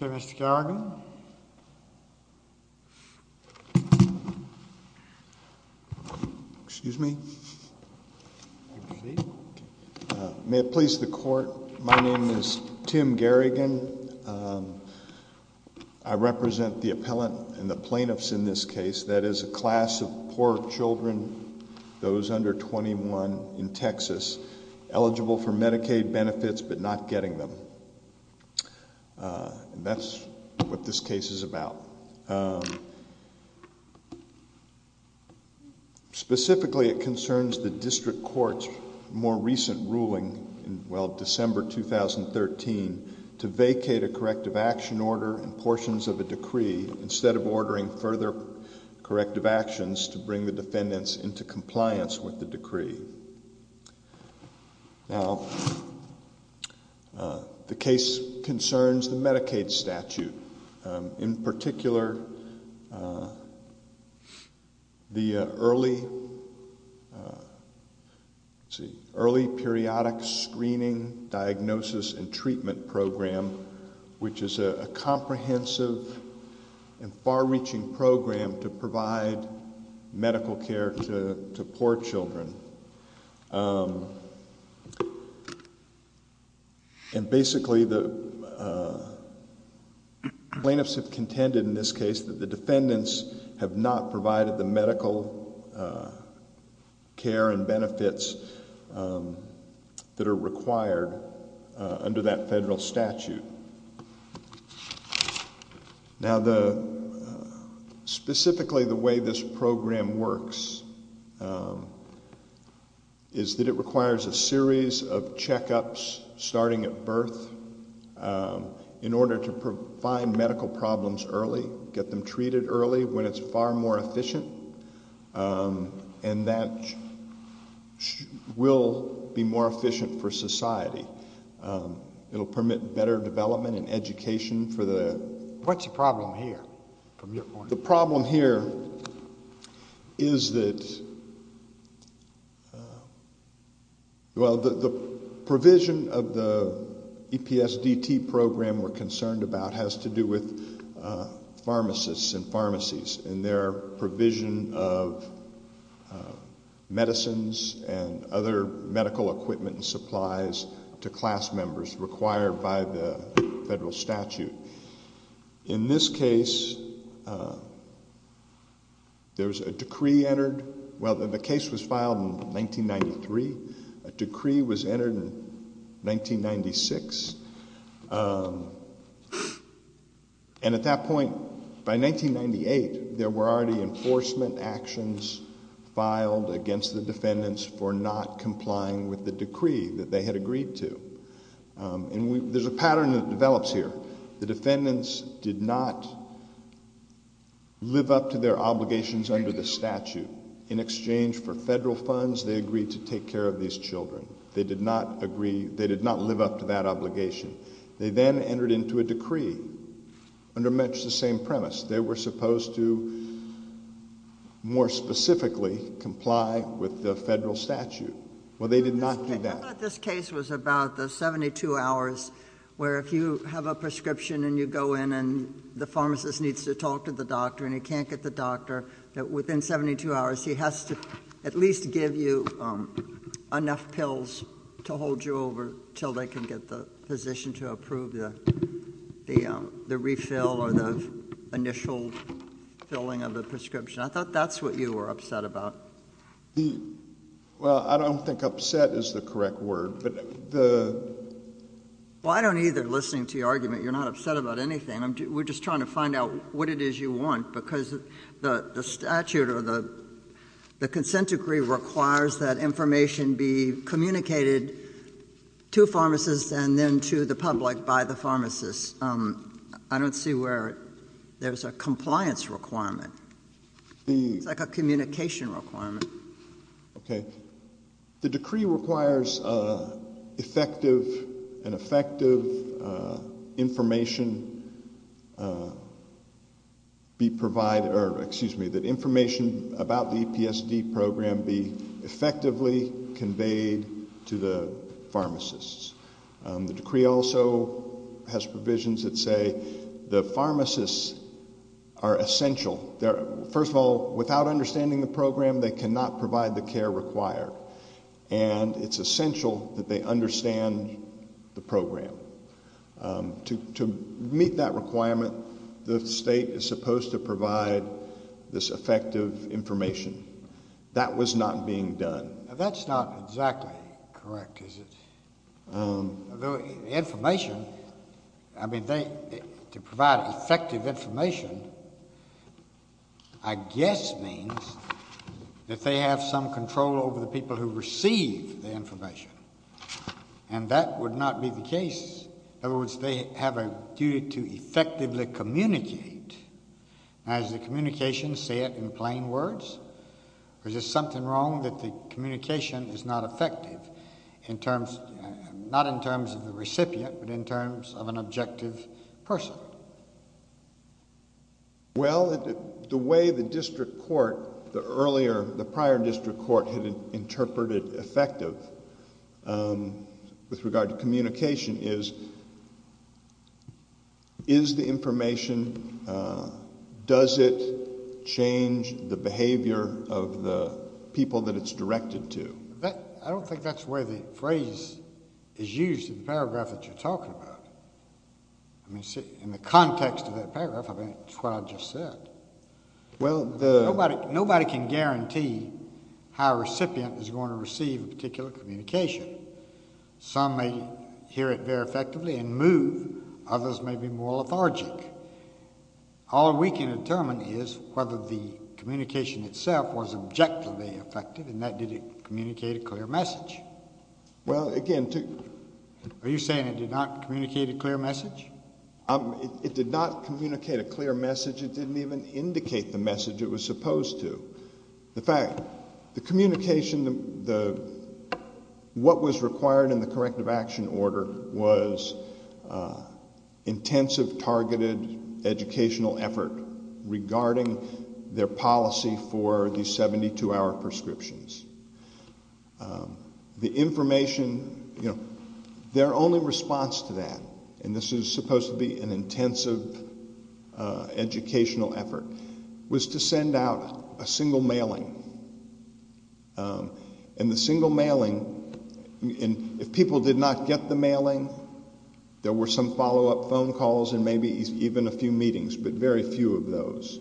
Okay, Mr. Garrigan. Excuse me. May it please the court, my name is Tim Garrigan, I represent the appellant and the plaintiffs in this case, that is a class of poor children, those under 21 in Texas, eligible for Medicaid benefits but not getting them. That's what this case is about. Specifically, it concerns the district court's more recent ruling in, well, December 2013, to vacate a corrective action order and portions of a decree instead of ordering further corrective actions to bring the defendants into compliance with the decree. Now, the case concerns the Medicaid statute. In particular, the early, let's see, early periodic screening, diagnosis and treatment program, which is a comprehensive and far-reaching program to provide medical care to poor children. And basically, the plaintiffs have contended in this case that the defendants have not met the federal statute. Now, the, specifically the way this program works is that it requires a series of checkups, starting at birth, in order to find medical problems early, get them treated early when it's far more efficient, and that will be more efficient for society. It will permit better development and education for the... What's the problem here, from your point of view? The problem here is that, well, the provision of the EPSDT program we're concerned about has to do with pharmacists and pharmacies and their provision of medicines and other medical equipment and supplies to class members required by the federal statute. In this case, there's a decree entered, well, the case was filed in 1993. A decree was entered in 1996. And at that point, by 1998, there were already enforcement actions filed against the defendants for not complying with the decree that they had agreed to. And there's a pattern that develops here. The defendants did not live up to their obligations under the statute. In exchange for federal funds, they agreed to take care of these children. They did not agree, they did not live up to that obligation. They then entered into a decree under much the same premise. They were supposed to, more specifically, comply with the federal statute. Well, they did not do that. I thought this case was about the 72 hours where if you have a prescription and you go in and the pharmacist needs to talk to the doctor and he can't get the doctor, that within 72 hours, he has to at least give you enough pills to hold you over until they can get the physician to approve the refill or the initial filling of the prescription. I thought that's what you were upset about. Well, I don't think upset is the correct word. Well, I don't either, listening to your argument. You're not upset about anything. We're just trying to find out what it is you want, because the statute or the consent decree requires that information be communicated to pharmacists and then to the public by the pharmacist. I don't see where there's a compliance requirement. It's like a communication requirement. The decree requires effective and effective information be provided, or excuse me, that the EPSD program be effectively conveyed to the pharmacists. The decree also has provisions that say the pharmacists are essential. First of all, without understanding the program, they cannot provide the care required. And it's essential that they understand the program. To meet that requirement, the state is supposed to provide this effective information. That was not being done. That's not exactly correct, is it? The information, I mean, to provide effective information, I guess means that they have some control over the people who receive the information. And that would not be the case. In other words, they have a duty to effectively communicate. Now, does the communication say it in plain words, or is there something wrong that the communication is not effective, not in terms of the recipient, but in terms of an objective person? Well, the way the district court, the prior district court, had interpreted effective with regard to communication is, is the information, does it change the behavior of the people that it's directed to? I mean, I don't think that's where the phrase is used in the paragraph that you're talking about. In the context of that paragraph, I mean, it's what I just said. Well, nobody can guarantee how a recipient is going to receive a particular communication. Some may hear it very effectively and move. Others may be more lethargic. All we can determine is whether the communication itself was objectively effective, and that did it communicate a clear message. Well, again, to- Are you saying it did not communicate a clear message? It did not communicate a clear message. It didn't even indicate the message it was supposed to. The fact, the communication, what was required in the corrective action order was intensive, targeted educational effort regarding their policy for the 72-hour prescriptions. The information, you know, their only response to that, and this is supposed to be an intensive educational effort, was to send out a single mailing, and the single mailing, and if people did not get the mailing, there were some follow-up phone calls and maybe even a few meetings, but very few of those.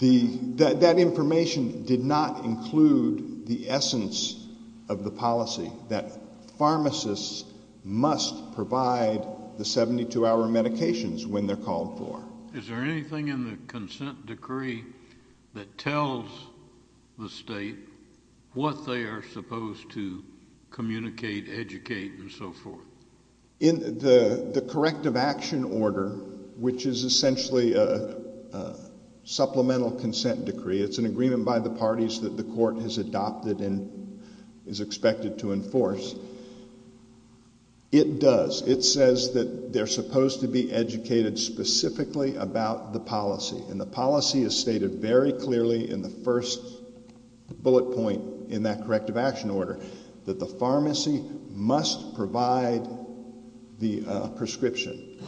That information did not include the essence of the policy that pharmacists must provide the 72-hour medications when they're called for. Is there anything in the consent decree that tells the state what they are supposed to communicate, educate, and so forth? In the corrective action order, which is essentially a supplemental consent decree, it's an agreement by the parties that the court has adopted and is expected to enforce, it does. It says that they're supposed to be educated specifically about the policy, and the policy is stated very clearly in the first bullet point in that corrective action order, that the pharmacy must provide the prescription.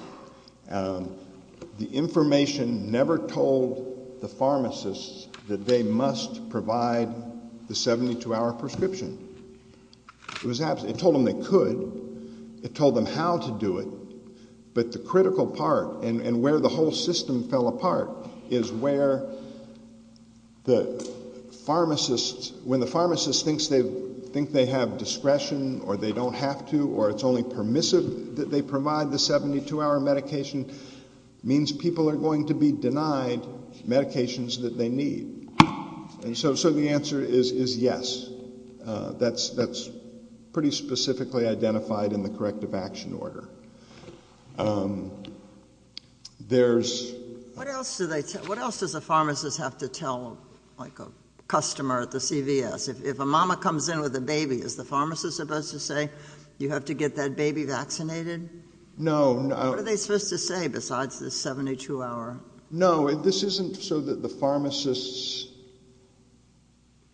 The information never told the pharmacists that they must provide the 72-hour prescription. It told them they could. It told them how to do it. But the critical part, and where the whole system fell apart, is where the pharmacists, when the pharmacists think they have discretion or they don't have to, or it's only permissive that they provide the 72-hour medication, means people are going to be denied medications that they need. And so the answer is yes. That's pretty specifically identified in the corrective action order. There's... What else do the pharmacists have to tell, like, a customer at the CVS? If a mama comes in with a baby, is the pharmacist supposed to say, you have to get that baby vaccinated? No. What are they supposed to say besides the 72-hour? No, this isn't so that the pharmacists...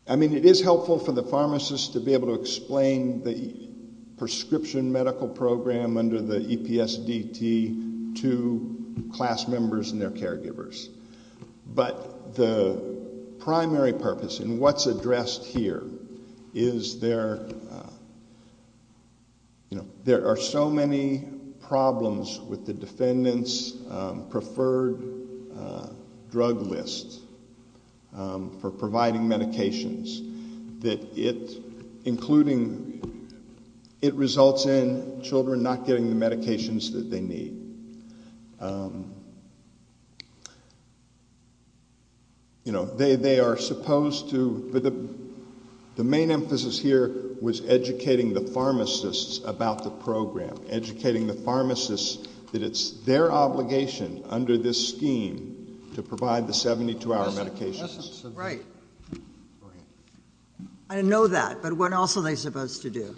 I mean, it is helpful for the pharmacists to be able to explain the prescription medical program under the EPSDT to class members and their caregivers. But the primary purpose, and what's addressed here, is there... You know, there are so many problems with the defendant's preferred drug list for providing medications that it's including... It results in children not getting the medications that they need. You know, they are supposed to... The main emphasis here was educating the pharmacists about the program, educating the pharmacists that it's their obligation under this scheme to provide the 72-hour medications. Right. I know that, but what else are they supposed to do?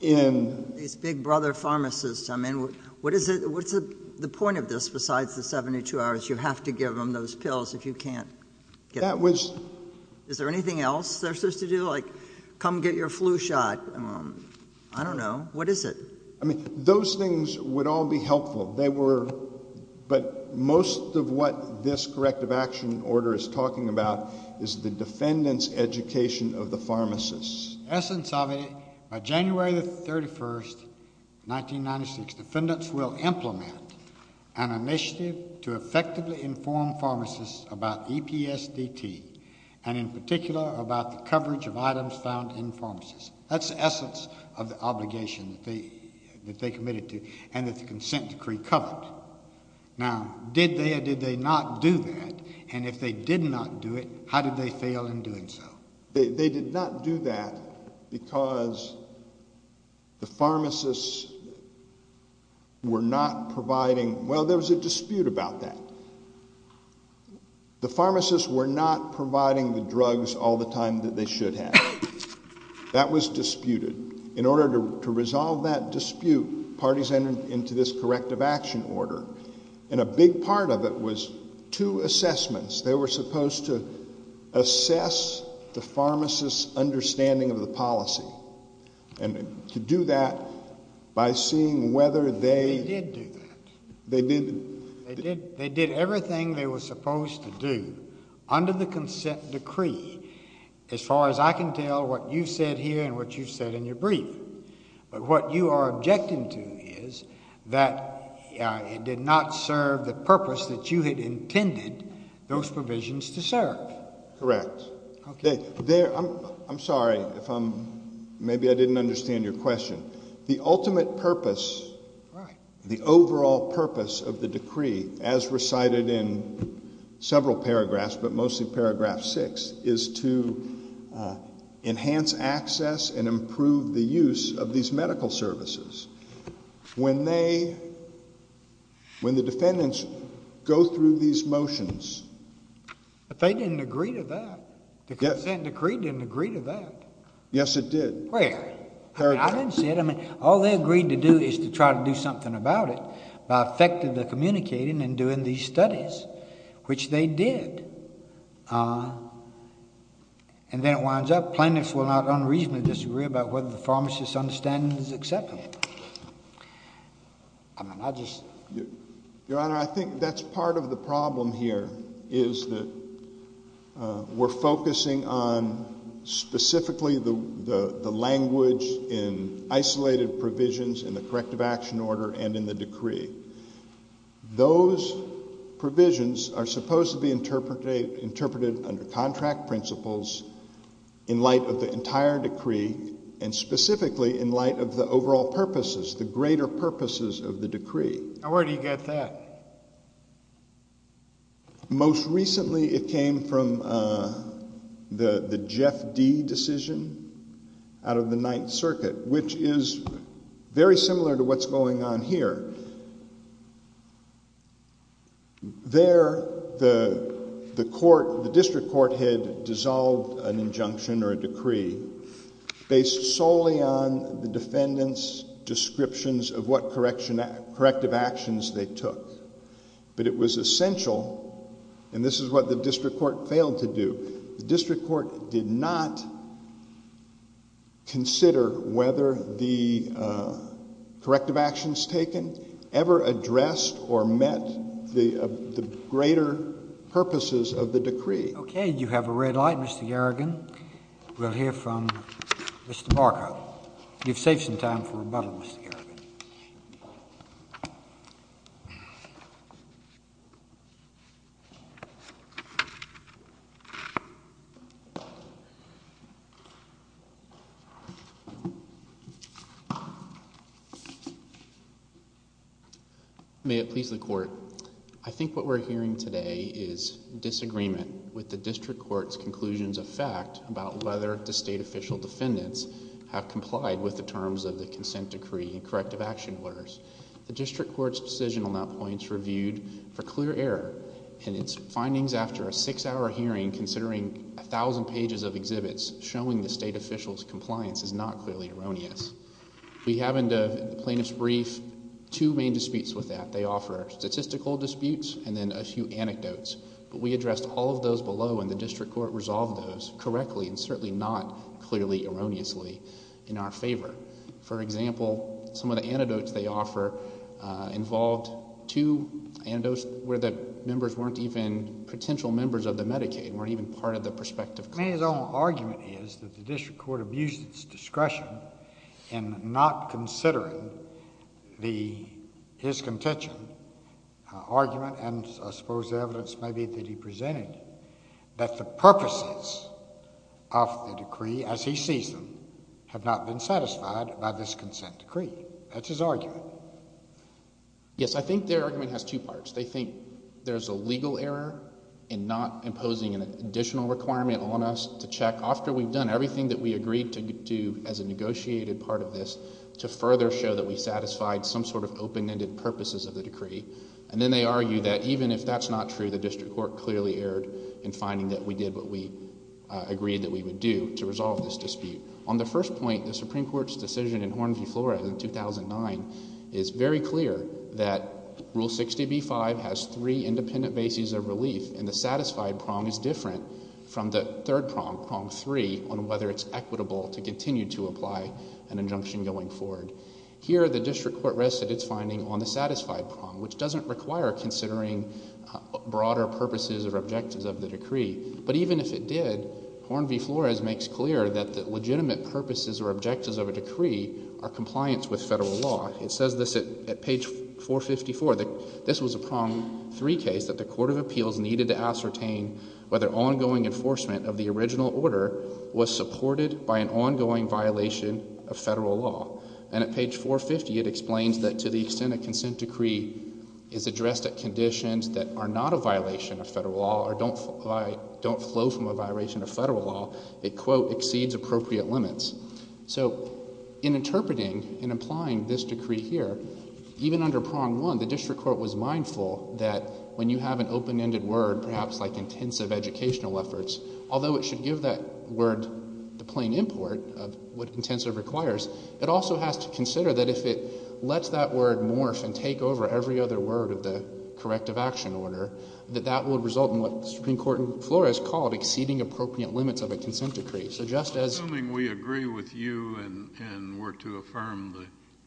These big brother pharmacists. I mean, what's the point of this besides the 72 hours? You have to give them those pills if you can't get them. That was... Is there anything else they're supposed to do, like, come get your flu shot? I don't know. What is it? I mean, those things would all be helpful. But most of what this corrective action order is talking about is the defendant's education of the pharmacists. The essence of it, by January 31, 1996, defendants will implement an initiative to effectively inform pharmacists about EPSDT and in particular about the coverage of items found in pharmacies. That's the essence of the obligation that they committed to and that the consent decree covered. Now, did they or did they not do that? And if they did not do it, how did they fail in doing so? They did not do that because the pharmacists were not providing... Well, there was a dispute about that. The pharmacists were not providing the drugs all the time that they should have. That was disputed. In order to resolve that dispute, parties entered into this corrective action order, and a big part of it was two assessments. They were supposed to assess the pharmacists' understanding of the policy and to do that by seeing whether they... They did do that. They did... They did everything they were supposed to do under the consent decree. As far as I can tell, what you've said here and what you've said in your brief, but what you are objecting to is that it did not serve the purpose that you had intended those provisions to serve. Correct. I'm sorry if I'm... Maybe I didn't understand your question. The ultimate purpose, the overall purpose of the decree, as recited in several paragraphs, but mostly paragraph 6, is to enhance access and improve the use of these medical services. When the defendants go through these motions... But they didn't agree to that. The consent decree didn't agree to that. Yes, it did. Where? Paragraph. I didn't say it. All they agreed to do is to try to do something about it by effectively communicating and doing these studies, which they did. And then it winds up, plaintiffs will not unreasonably disagree about whether the pharmacist's understanding is acceptable. I mean, I just... in the corrective action order and in the decree. Those provisions are supposed to be interpreted under contract principles in light of the entire decree and specifically in light of the overall purposes, the greater purposes of the decree. Now, where do you get that? Most recently it came from the Jeff D. decision out of the Ninth Circuit, which is very similar to what's going on here. There, the court, the district court had dissolved an injunction or a decree based solely on the defendant's descriptions of what corrective actions they took. But it was essential, and this is what the district court failed to do, the district court did not consider whether the corrective actions taken ever addressed or met the greater purposes of the decree. Okay, you have a red light, Mr. Garrigan. We'll hear from Mr. Markov. You've saved some time for rebuttal, Mr. Garrigan. I think what we're hearing today is disagreement with the district court's conclusions of fact about whether the state official defendants have complied with the terms of the consent decree and corrective action orders. The district court's decision on that point is reviewed for clear error, and its findings after a six-hour hearing considering a thousand pages of exhibits showing the state official's compliance is not clearly erroneous. We have in the plaintiff's brief two main disputes with that. They offer statistical disputes and then a few anecdotes. But we addressed all of those below, and the district court resolved those correctly and certainly not clearly erroneously in our favor. For example, some of the anecdotes they offer involved two anecdotes where the members weren't even potential members of the Medicaid and weren't even part of the prospective client. I mean, his own argument is that the district court abused its discretion in not considering his contention, argument, and I suppose the evidence maybe that he presented, that the purposes of the decree as he sees them have not been satisfied by this consent decree. That's his argument. Yes, I think their argument has two parts. They think there's a legal error in not imposing an additional requirement on us to check after we've done everything that we agreed to do as a negotiated part of this to further show that we satisfied some sort of open-ended purposes of the decree. And then they argue that even if that's not true, the district court clearly erred in finding that we did what we agreed that we would do to resolve this dispute. On the first point, the Supreme Court's decision in Hornview, Florida in 2009 is very clear that Rule 60b-5 has three independent bases of relief and the satisfied prong is different from the third prong, prong three, on whether it's equitable to continue to apply an injunction going forward. Here the district court rested its finding on the satisfied prong, which doesn't require considering broader purposes or objectives of the decree. But even if it did, Hornview, Flores makes clear that the legitimate purposes or objectives of a decree are compliance with federal law. It says this at page 454. This was a prong three case that the court of appeals needed to ascertain whether ongoing enforcement of the original order was supported by an ongoing violation of federal law. And at page 450 it explains that to the extent a consent decree is addressed at conditions that are not a violation of federal law or don't flow from a violation of federal law, it, quote, exceeds appropriate limits. So in interpreting and applying this decree here, even under prong one the district court was mindful that when you have an open-ended word, perhaps like intensive educational efforts, although it should give that word the plain import of what intensive requires, it also has to consider that if it lets that word morph and take over every other word of the corrective action order, that that would result in what the Supreme Court in Flores called exceeding appropriate limits of a consent decree. So just as... I'm assuming we agree with you and were to affirm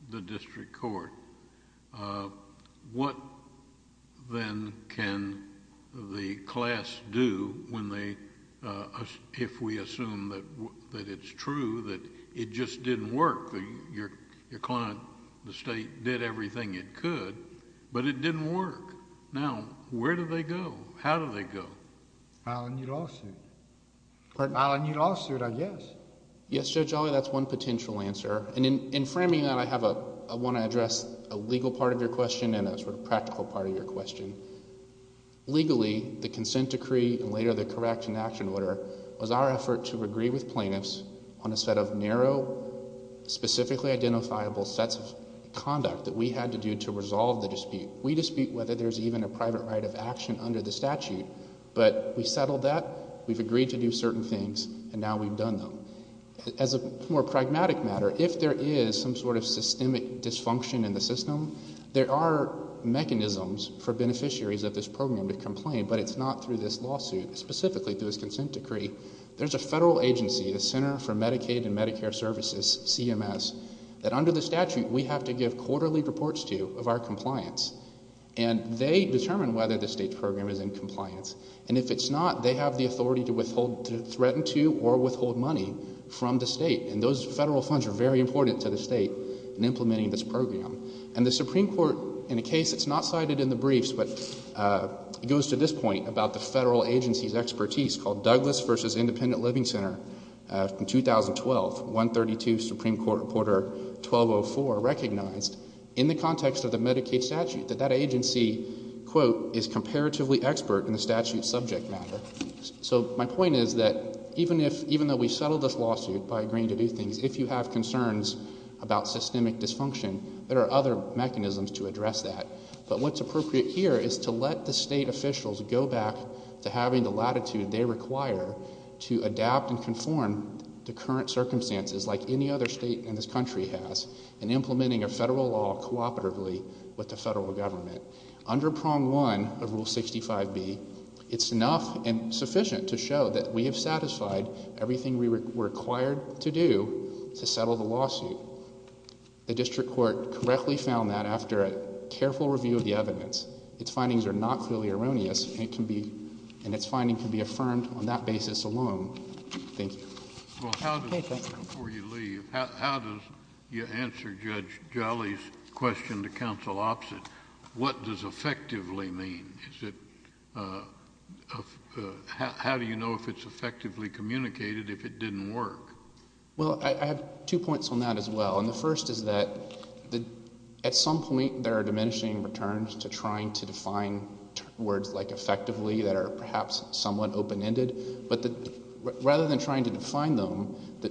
the district court. What then can the class do when they, if we assume that it's true, that it just didn't work, your client, the State, did everything it could, but it didn't work. Now, where do they go? How do they go? I don't need a lawsuit. Pardon? I don't need a lawsuit, I guess. Yes, Judge Olley, that's one potential answer. And in framing that, I want to address a legal part of your question and a sort of practical part of your question. Legally, the consent decree and later the correction action order was our effort to agree with plaintiffs on a set of narrow, specifically identifiable sets of conduct that we had to do to resolve the dispute. We dispute whether there's even a private right of action under the statute, but we settled that, we've agreed to do certain things, and now we've done them. As a more pragmatic matter, if there is some sort of systemic dysfunction in the system, there are mechanisms for beneficiaries of this program to complain, but it's not through this lawsuit, specifically through this consent decree. There's a federal agency, the Center for Medicaid and Medicare Services, CMS, that under the statute we have to give quarterly reports to of our compliance, and they determine whether the state's program is in compliance. And if it's not, they have the authority to threaten to or withhold money from the state, and those federal funds are very important to the state in implementing this program. And the Supreme Court, in a case that's not cited in the briefs, but it goes to this point about the federal agency's expertise called Douglas v. Independent Living Center from 2012, 132 Supreme Court Reporter 1204, recognized in the context of the Medicaid statute that that agency, quote, is comparatively expert in the statute's subject matter. So my point is that even though we settled this lawsuit by agreeing to do things, if you have concerns about systemic dysfunction, there are other mechanisms to address that. But what's appropriate here is to let the state officials go back to having the latitude they require to adapt and conform to current circumstances like any other state in this country has in implementing a federal law cooperatively with the federal government. Under Prong 1 of Rule 65b, it's enough and sufficient to show that we have satisfied everything we were required to do to settle the lawsuit. The district court correctly found that after a careful review of the evidence. Its findings are not clearly erroneous, and its finding can be affirmed on that basis alone. JUSTICE KENNEDY Well, before you leave, how does your answer Judge Jolly's question to counsel opposite, what does effectively mean? How do you know if it's effectively communicated if it didn't work? Well, I have two points on that as well. And the first is that at some point there are diminishing returns to trying to define words like effectively that are perhaps somewhat open-ended. But rather than trying to define them,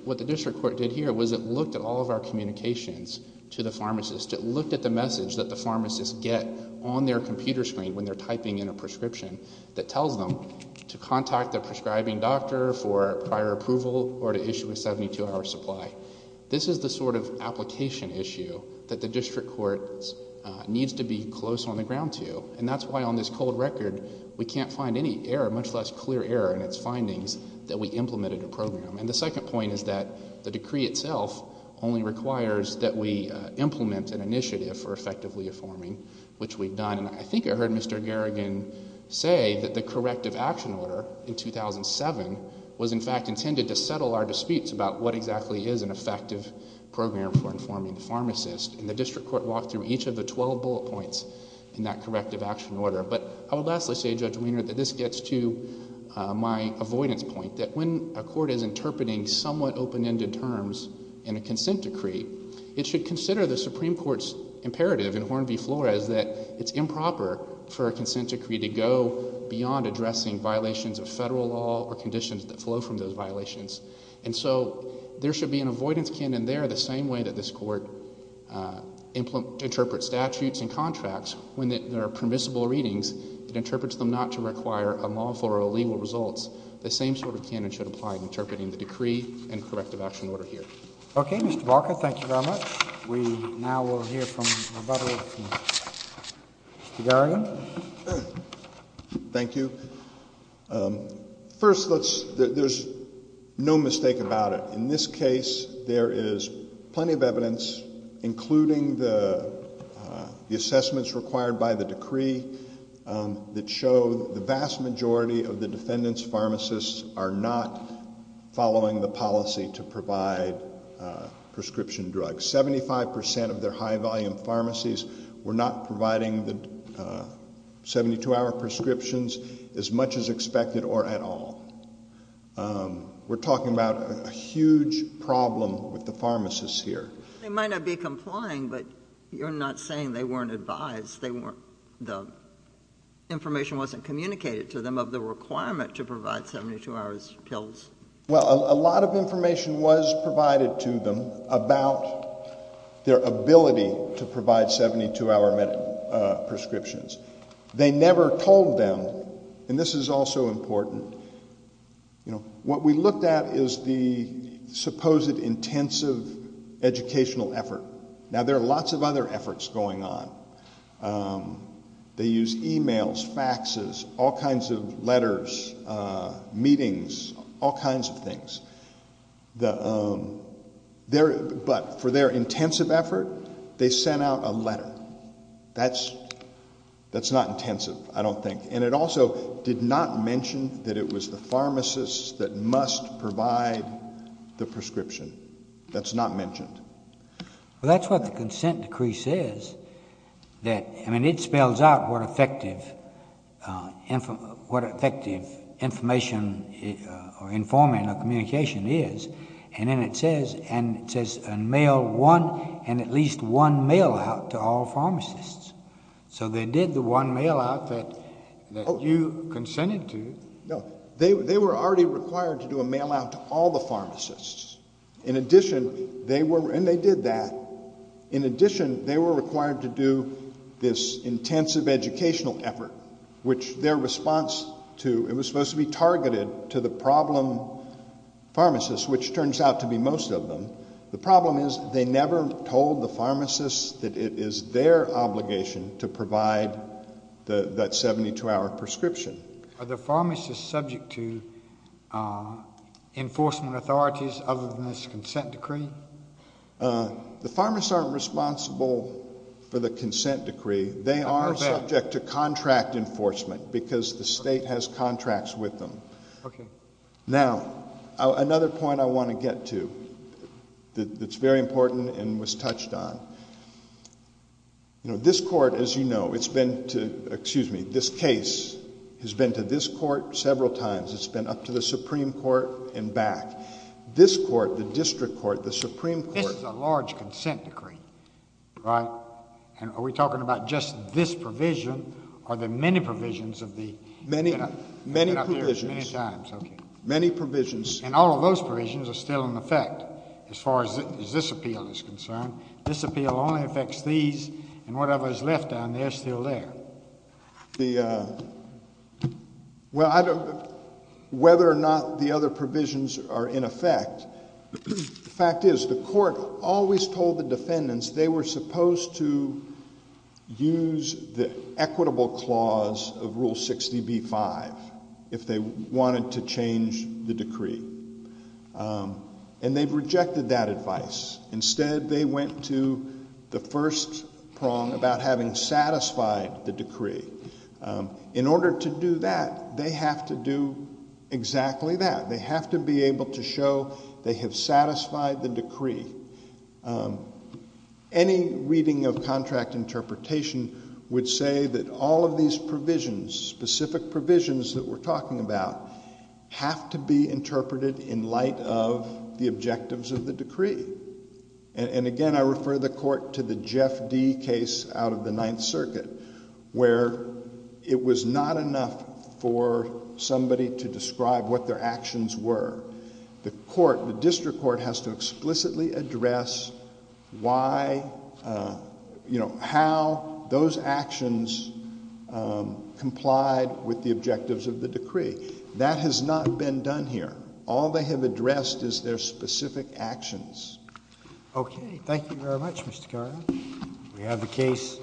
what the district court did here was it looked at all of our communications to the pharmacist. It looked at the message that the pharmacist get on their computer screen when they're typing in a prescription that tells them to contact their prescribing doctor for prior approval or to issue a 72-hour supply. This is the sort of application issue that the district court needs to be close on the ground to. And that's why on this cold record we can't find any error, much less clear error in its findings, that we implemented a program. And the second point is that the decree itself only requires that we implement an initiative for effectively affirming, which we've done. And I think I heard Mr. Garrigan say that the corrective action order in 2007 was, in fact, intended to settle our disputes about what exactly is an effective program for informing the pharmacist. And the district court walked through each of the 12 bullet points in that corrective action order. But I will lastly say, Judge Wiener, that this gets to my avoidance point, that when a court is interpreting somewhat open-ended terms in a consent decree, it should consider the Supreme Court's imperative in Horn v. Flores that it's improper for a consent decree to go beyond addressing violations of Federal law or conditions that flow from those violations. And so there should be an avoidance canon there the same way that this court interprets statutes and contracts. When there are permissible readings, it interprets them not to require a lawful or illegal results. The same sort of canon should apply in interpreting the decree and corrective action order here. Okay, Mr. Barker, thank you very much. We now will hear from Mr. Garrigan. Thank you. First, there's no mistake about it. In this case, there is plenty of evidence, including the assessments required by the decree, that show the vast majority of the defendant's pharmacists are not following the policy to provide prescription drugs. Seventy-five percent of their high-volume pharmacies were not providing the 72-hour prescriptions as much as expected or at all. We're talking about a huge problem with the pharmacists here. They might not be complying, but you're not saying they weren't advised. The information wasn't communicated to them of the requirement to provide 72-hour pills. Well, a lot of information was provided to them about their ability to provide 72-hour prescriptions. They never told them, and this is also important, what we looked at is the supposed intensive educational effort. Now, there are lots of other efforts going on. They use e-mails, faxes, all kinds of letters, meetings, all kinds of things. But for their intensive effort, they sent out a letter. That's not intensive, I don't think. And it also did not mention that it was the pharmacists that must provide the prescription. That's not mentioned. Well, that's what the consent decree says. I mean, it spells out what effective information or informing or communication is. And then it says mail one and at least one mail out to all pharmacists. So they did the one mail out that you consented to. No. They were already required to do a mail out to all the pharmacists. In addition, they were—and they did that. In addition, they were required to do this intensive educational effort, which their response to—it was supposed to be targeted to the problem pharmacists, which turns out to be most of them. The problem is they never told the pharmacists that it is their obligation to provide that 72-hour prescription. Are the pharmacists subject to enforcement authorities other than this consent decree? The pharmacists aren't responsible for the consent decree. They are subject to contract enforcement because the state has contracts with them. Okay. Now, another point I want to get to that's very important and was touched on. You know, this court, as you know, it's been to—excuse me, this case has been to this court several times. It's been up to the Supreme Court and back. This court, the district court, the Supreme Court— This is a large consent decree, right? And are we talking about just this provision? Are there many provisions of the— Many provisions. Many times. Okay. Many provisions. And all of those provisions are still in effect as far as this appeal is concerned. This appeal only affects these, and whatever is left down there is still there. The—well, I don't—whether or not the other provisions are in effect, the fact is the court always told the defendants they were supposed to use the equitable clause of Rule 60b-5 if they wanted to change the decree. And they've rejected that advice. Instead, they went to the first prong about having satisfied the decree. In order to do that, they have to do exactly that. They have to be able to show they have satisfied the decree. Any reading of contract interpretation would say that all of these provisions, specific provisions that we're talking about, have to be interpreted in light of the objectives of the decree. And again, I refer the court to the Jeff D. case out of the Ninth Circuit, where it was not enough for somebody to describe what their actions were. The court, the district court, has to explicitly address why, you know, how those actions complied with the objectives of the decree. That has not been done here. All they have addressed is their specific actions. Okay. Thank you very much, Mr. Carr. We have the case.